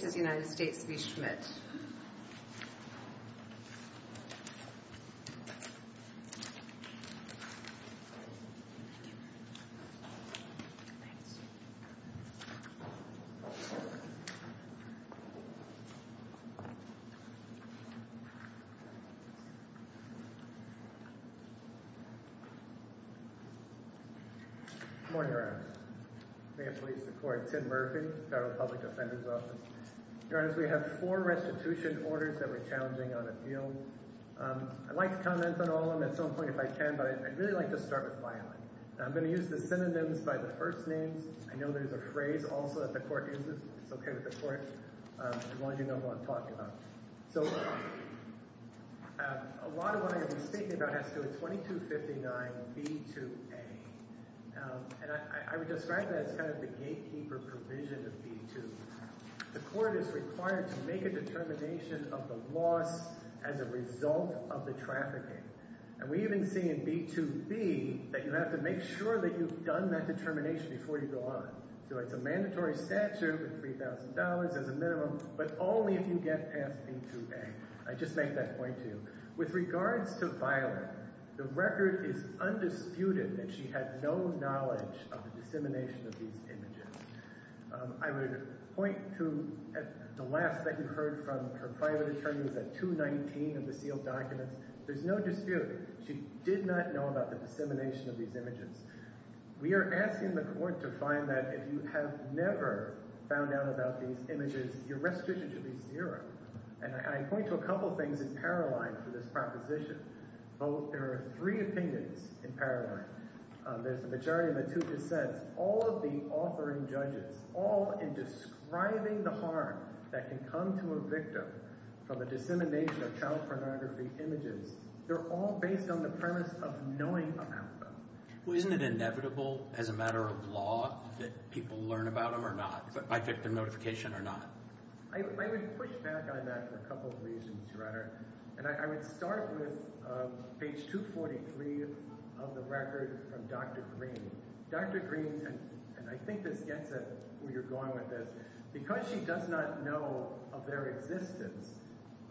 Good morning. I'm the mayor of Police Record, Tim Murphy, Federal Public Defender's Office. Your Honor, we have four restitution orders that we're challenging on appeal. I'd like to comment on all of them at some point if I can, but I'd really like to start with filing. I'm going to use the synonyms by the first names. I know there's a phrase also that the court uses. It's okay with the court, as long as you know who I'm talking about. So a lot of what I'm going to be speaking about has to do with 2259 B2A. And I would describe that as kind of the gatekeeper provision of B2. The court is required to make a determination of the loss as a result of the trafficking. And we even see in B2B that you have to make sure that you've done that determination before you go on. So it's a mandatory statute with $3,000 as a minimum, but only if you get past B2A. I just made that point to you. With regards to filing, the record is undisputed that she had no knowledge of the dissemination of these images. I would point to the last that you heard from her private attorney was at 219 of the sealed documents. There's no dispute. She did not know about the dissemination of these images. We are asking the court to find that if you have never found out about these images, your restitution should be zero. And I point to a line for this proposition. There are three opinions in parallel. There's the majority of the two dissents. All of the authoring judges, all in describing the harm that can come to a victim from a dissemination of child pornography images, they're all based on the premise of knowing about them. Well, isn't it inevitable as a matter of law that people learn about them or not, by victim notification or not? I would push back on that for a couple reasons, Your Honor. And I would start with page 243 of the record from Dr. Green. Dr. Green, and I think this gets at where you're going with this, because she does not know of their existence,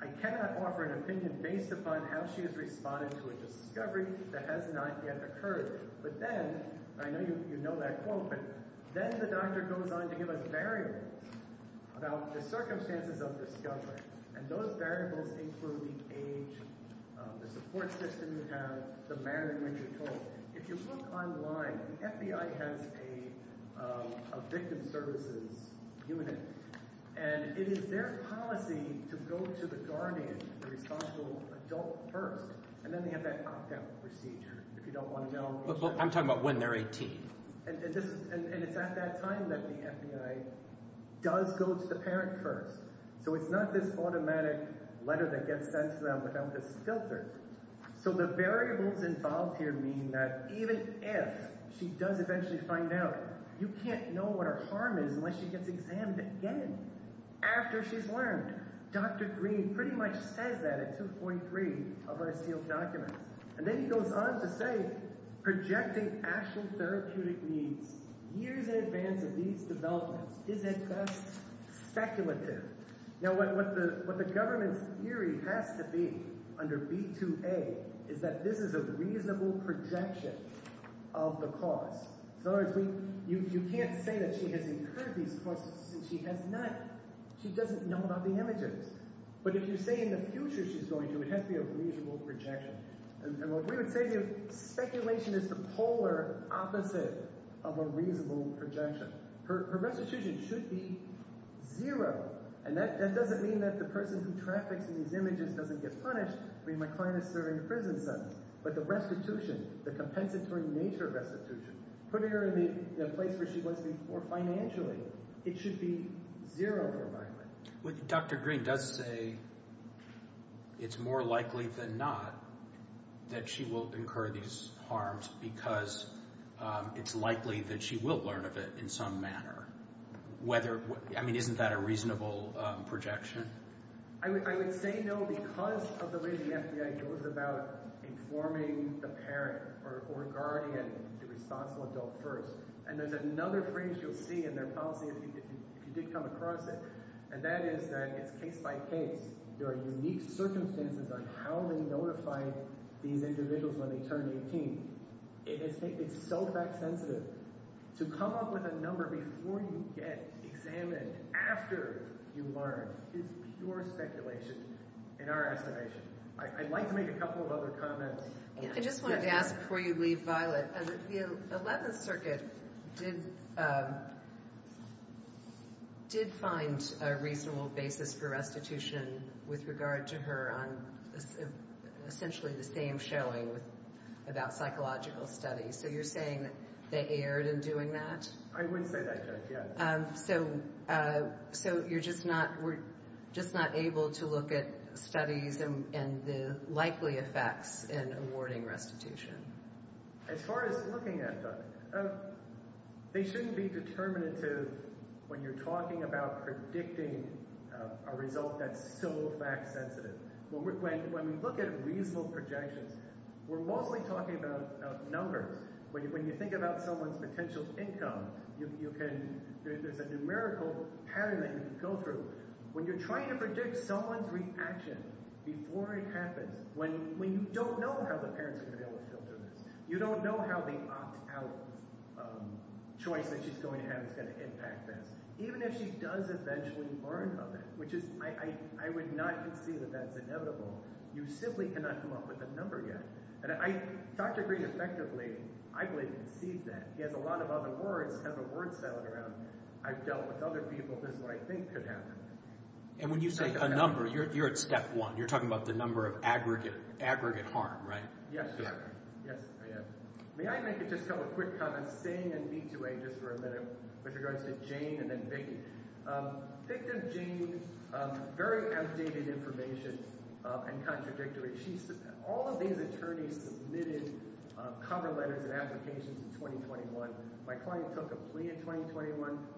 I cannot offer an opinion based upon how she has responded to a discovery that has not yet occurred. But then, I know you know that quote, but then the doctor goes on to give us variables about the circumstances of discovery. And those variables include the age, the support system you have, the manner in which you're told. If you look online, the FBI has a victim services unit, and it is their policy to go to the guardian, the responsible adult first, and then they have that opt-out procedure, if you don't want to know. I'm talking about when they're 18. And it's at that time that the FBI does go to the parent first. So it's not this automatic letter that gets sent to them without this filter. So the variables involved here mean that even if she does eventually find out, you can't know what her harm is unless she gets examined again after she's learned. Dr. Hickman, he goes on to say, projecting actual therapeutic needs years in advance of these developments is, at best, speculative. Now, what the government's theory has to be under B2A is that this is a reasonable projection of the cause. In other words, you can't say that she has incurred these causes since she has not. She doesn't know about the images. But if you say in the future she's going to, it has to be a reasonable projection. And what we would say, speculation is the polar opposite of a reasonable projection. Her restitution should be zero. And that doesn't mean that the person who traffics in these images doesn't get punished. I mean, my client is serving a prison sentence. But the restitution, the compensatory nature restitution, putting her in the place where she was before financially, it should be zero for my client. Dr. Green does say it's more likely than not that she will incur these harms because it's likely that she will learn of it in some manner. I mean, isn't that a reasonable projection? I would say no because of the way the FBI goes about informing the parent or guardian, the responsible adult first. And there's another phrase you'll see in their policy, if you did come across it, and that is that it's case by case. There are unique circumstances on how they notify these individuals when they turn 18. It's so fact sensitive. To come up with a number before you get examined, after you learn, is pure speculation in our estimation. I'd like to make a couple of other comments. I just wanted to ask before you leave, Violet, the 11th Circuit did find a reasonable basis for restitution with regard to her on essentially the same showing about psychological studies. So you're saying they erred in doing that? I would say that, yes. So you're just not, we're just not able to look at studies and the likely effects in awarding restitution? As far as looking at them, they shouldn't be determinative when you're talking about predicting a result that's so fact sensitive. When we look at reasonable projections, we're mostly talking about numbers. When you think about someone's potential income, you can, there's a numerical pattern that you can go through. When you're trying to predict someone's reaction before it happens, when you don't know how the parents are going to be able to filter this, you don't know how the opt-out choice that she's going to have is going to impact this, even if she does eventually learn of it, which is, I would not concede that that's inevitable. You simply cannot come up with a number yet. Dr. Green effectively, I believe, concedes that. He has a lot of other words, has a word salad around, I've dealt with other people, this is what I think could happen. And when you say a number, you're at step one, you're talking about the number of aggregate harm, right? Yes, sir. Yes, I am. May I make just a couple quick comments, staying in B2A just for a minute, with regards to Jane and then Vicki. Victim Jane, very outdated information and contradictory. All of these attorneys submitted cover letters and applications in 2021. My client took a plea in 2021,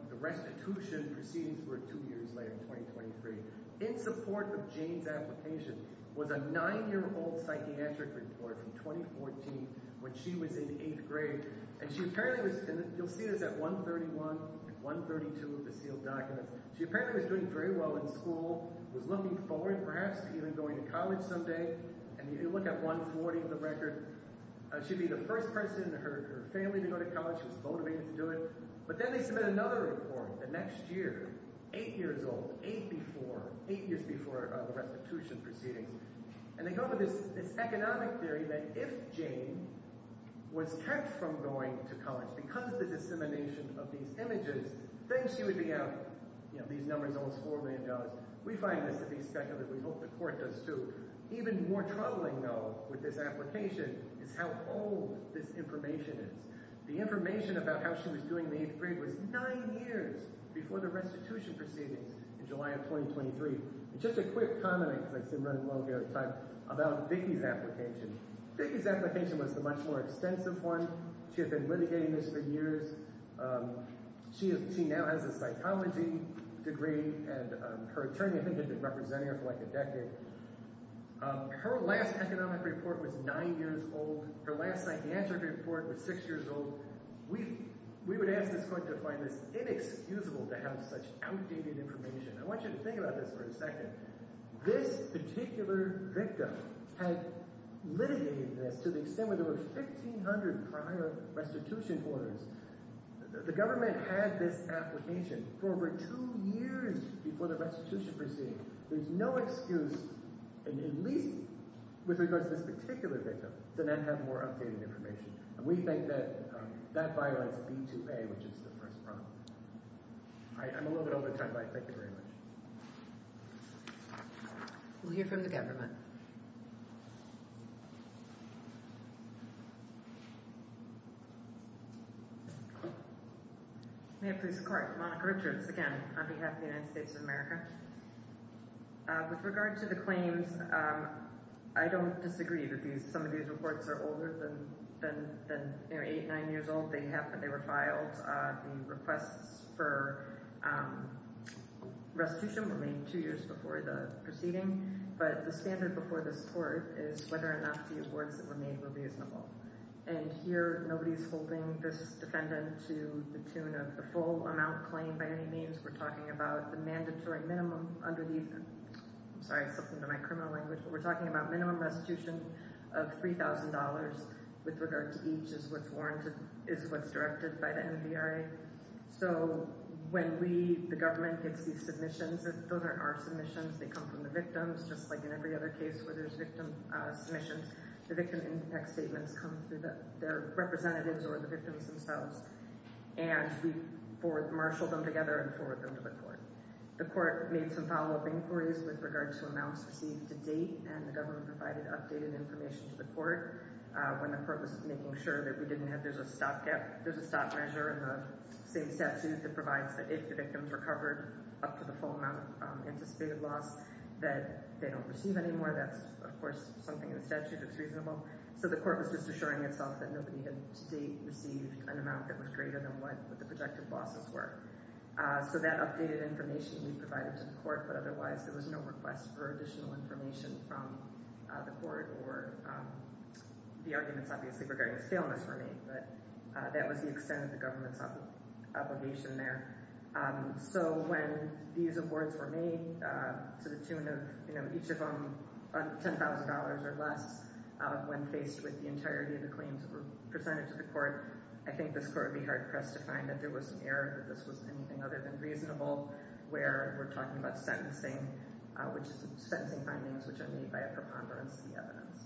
the restitution proceedings were two years later in 2023. In support of Jane's application was a nine-year-old psychiatric report from 2014 when she was in eighth grade, and she apparently was, you'll see this at 131 and 132 of the sealed documents, she apparently was doing very well in school, was looking forward perhaps to even going to college someday, and you look at 140 on the record, she'd be the first person in her family to go to college, she was motivated to do it. But then they submit another report the next year, eight years old, eight before, eight years before the restitution proceedings. And they come up with this economic theory that if Jane was kept from going to college because of the dissemination of these images, then she would be out, you know, these numbers almost $4 million. We find this to be speculative, we hope the court does too. Even more troubling, though, with this application is how old this information is. The information about how she was doing in the eighth grade was nine years before the restitution proceedings in July of 2023. And just a quick comment, because I've been running long ahead of time, about Vicki's application. Vicki's application was the much more extensive one, she had been litigating this for years, she now has a psychology degree, and her attorney, I think, has been representing her for like a decade. Her last economic report was nine years old, her last psychiatric report was six years old. We would ask this court to find this inexcusable to have such outdated information. I want you to think about this for a second. This particular victim had litigated this to the extent where there were 1,500 prior restitution orders. The government had this application for over two years before the restitution proceedings. There's no excuse, at least with regards to this particular victim, to not have more updated information. And we think that that violates B2A, which is the first problem. All right, I'm a little bit over time, but thank you very much. We'll hear from the government. May it please the court, Monica Richards, again, on behalf of the United States of America. With regard to the claims, I don't disagree that some of these reports are older than eight, nine years old. They were filed, the requests for restitution were made two years before the proceeding, but the standard before this court is whether or not the awards that were made were reasonable. And here, nobody's holding this defendant to the tune of the full amount claimed by any means. We're talking about the mandatory minimum under the, I'm sorry, something to my criminal language, but we're talking about minimum restitution of $3,000 with regard to each is what's warranted, is what's directed by the NVRA. So when we, the government, gets these submissions, those aren't our submissions, they come from the victims, just like in every other case where there's victim submissions, the victim impact statements come through the representatives or the victims themselves, and we marshal them together and forward them to the court. The court made some follow-up inquiries with regard to amounts received to date, and the government provided updated information to the court when the court was making sure that we didn't have, there's a stop gap, there's a stop measure in the same statute that provides that if the victims recovered up to the full amount anticipated loss that they don't receive anymore, that's of course something in the statute that's reasonable. So the court was just assuring itself that nobody had to date received an amount that was greater than what the projected losses were. So that updated information we provided to the court, but otherwise there was no request for additional information from the court or the arguments obviously regarding scaleness were made, but that was the extent of the government's obligation there. So when these awards were made to the tune of, you know, each of them $10,000 or less, when faced with the entirety of the claims that were presented to the court, I think this court would be hard-pressed to find that there was an error, that this was anything other than reasonable, where we're talking about sentencing, which is sentencing findings which are made by a preponderance of the evidence.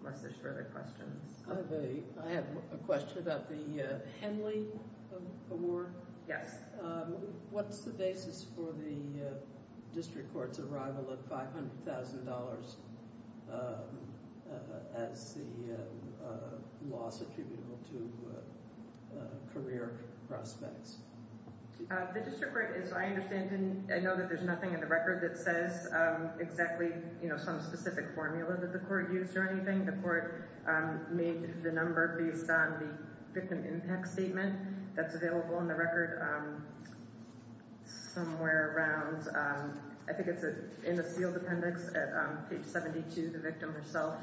Unless there's further questions. I have a question about the Henley award. Yes. What's the basis for the district court's arrival of $500,000 as the loss attributable to career prospects? The district court, as I understand, I know that there's nothing in the record that says exactly, you know, some specific formula that the court used or anything. The court made the number based on the victim impact statement that's available in the record somewhere around, I think it's in the sealed appendix at page 72, the victim herself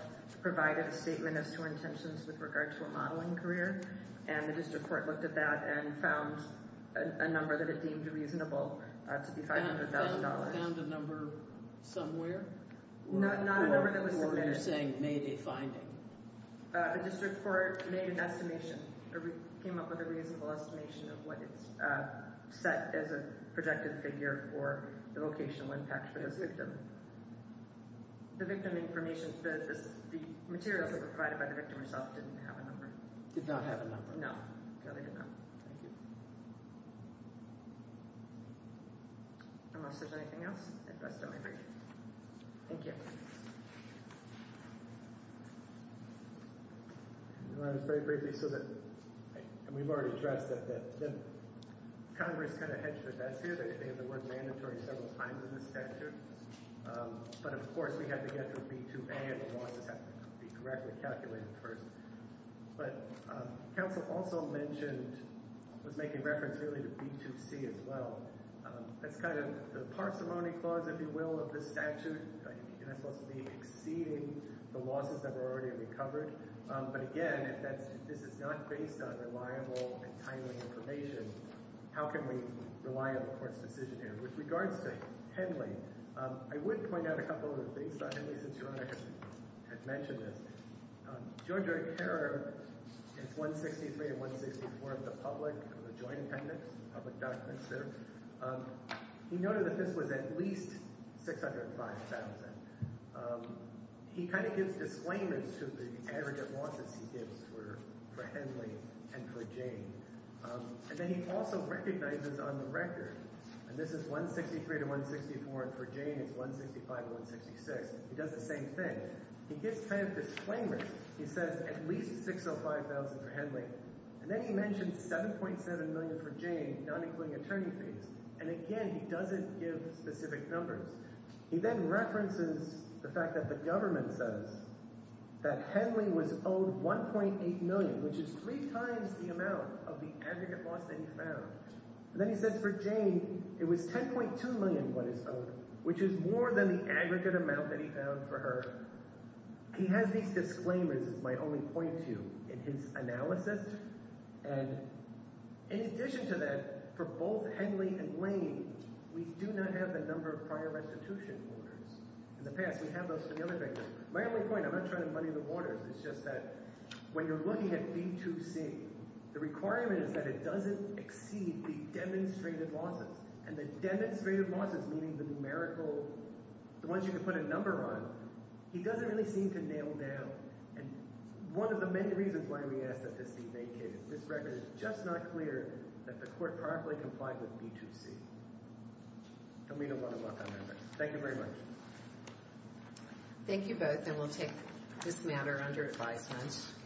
provided a statement as to her intentions with regard to a modeling career, and the district court looked at that and found a number that it deemed reasonable to be $500,000. Found a number somewhere? Not a number that was submitted. You're saying maybe finding. The district court made an estimation or came up with a reasonable estimation of what it's set as a projected figure for the vocational impact for this victim. The victim information, the materials that were provided by the victim herself didn't have a number. Did not have a number. No, no they did not. Thank you. Unless there's anything else, at best I might break. Thank you. I want to say briefly so that, and we've already addressed that, that Congress kind of hedged their bets here that they have the word mandatory several times in the statute, but of course we had to get the B2A and the losses have to be correctly calculated first. But counsel also mentioned, was making reference really to B2C as well. That's kind of the parsimony clause, if you will, of the statute, and that's supposed to be exceeding the losses that were already recovered. But again, if that's, this is not based on reliable and timely information, how can we rely on the court's decision here? With regards to Henley, I would point out a couple of things about Henley since you had mentioned this. George O'Carroll is 163 and 164 of the public, of the joint attendance, public documents there. He noted that this was at least 605,000. He kind of gives disclaimers to the average of losses he gives for Henley and for Jane. And then he also recognizes on the record, and this is 163 to 164, and for Jane it's 165 to 166. He does the same thing. He gives kind of disclaimers. He says at least 605,000 for Henley. And then he mentioned 7.7 million for Jane, not including attorney fees. And again, he doesn't give specific numbers. He then references the fact that the government says that Henley was owed 1.8 million, which is three times the amount of the aggregate loss that he found. And then he says for Jane, it was 10.2 million what is owed, which is more than the aggregate amount that he found for her. He has these disclaimers, as my only point to you, in his analysis. And in addition to that, for both Henley and Lane, we do not have the number of prior restitution orders. In the past, we have those for the other vendors. My only point, I'm not running the money in the waters. It's just that when you're looking at B2C, the requirement is that it doesn't exceed the demonstrated losses. And the demonstrated losses, meaning the numerical, the ones you can put a number on, he doesn't really seem to nail down. And one of the many reasons why we asked that this be vacated. This record is just not clear that the court properly complied with B2C. And we don't want to let that happen. Thank you very much. Thank you both, and we'll take this matter under advisement.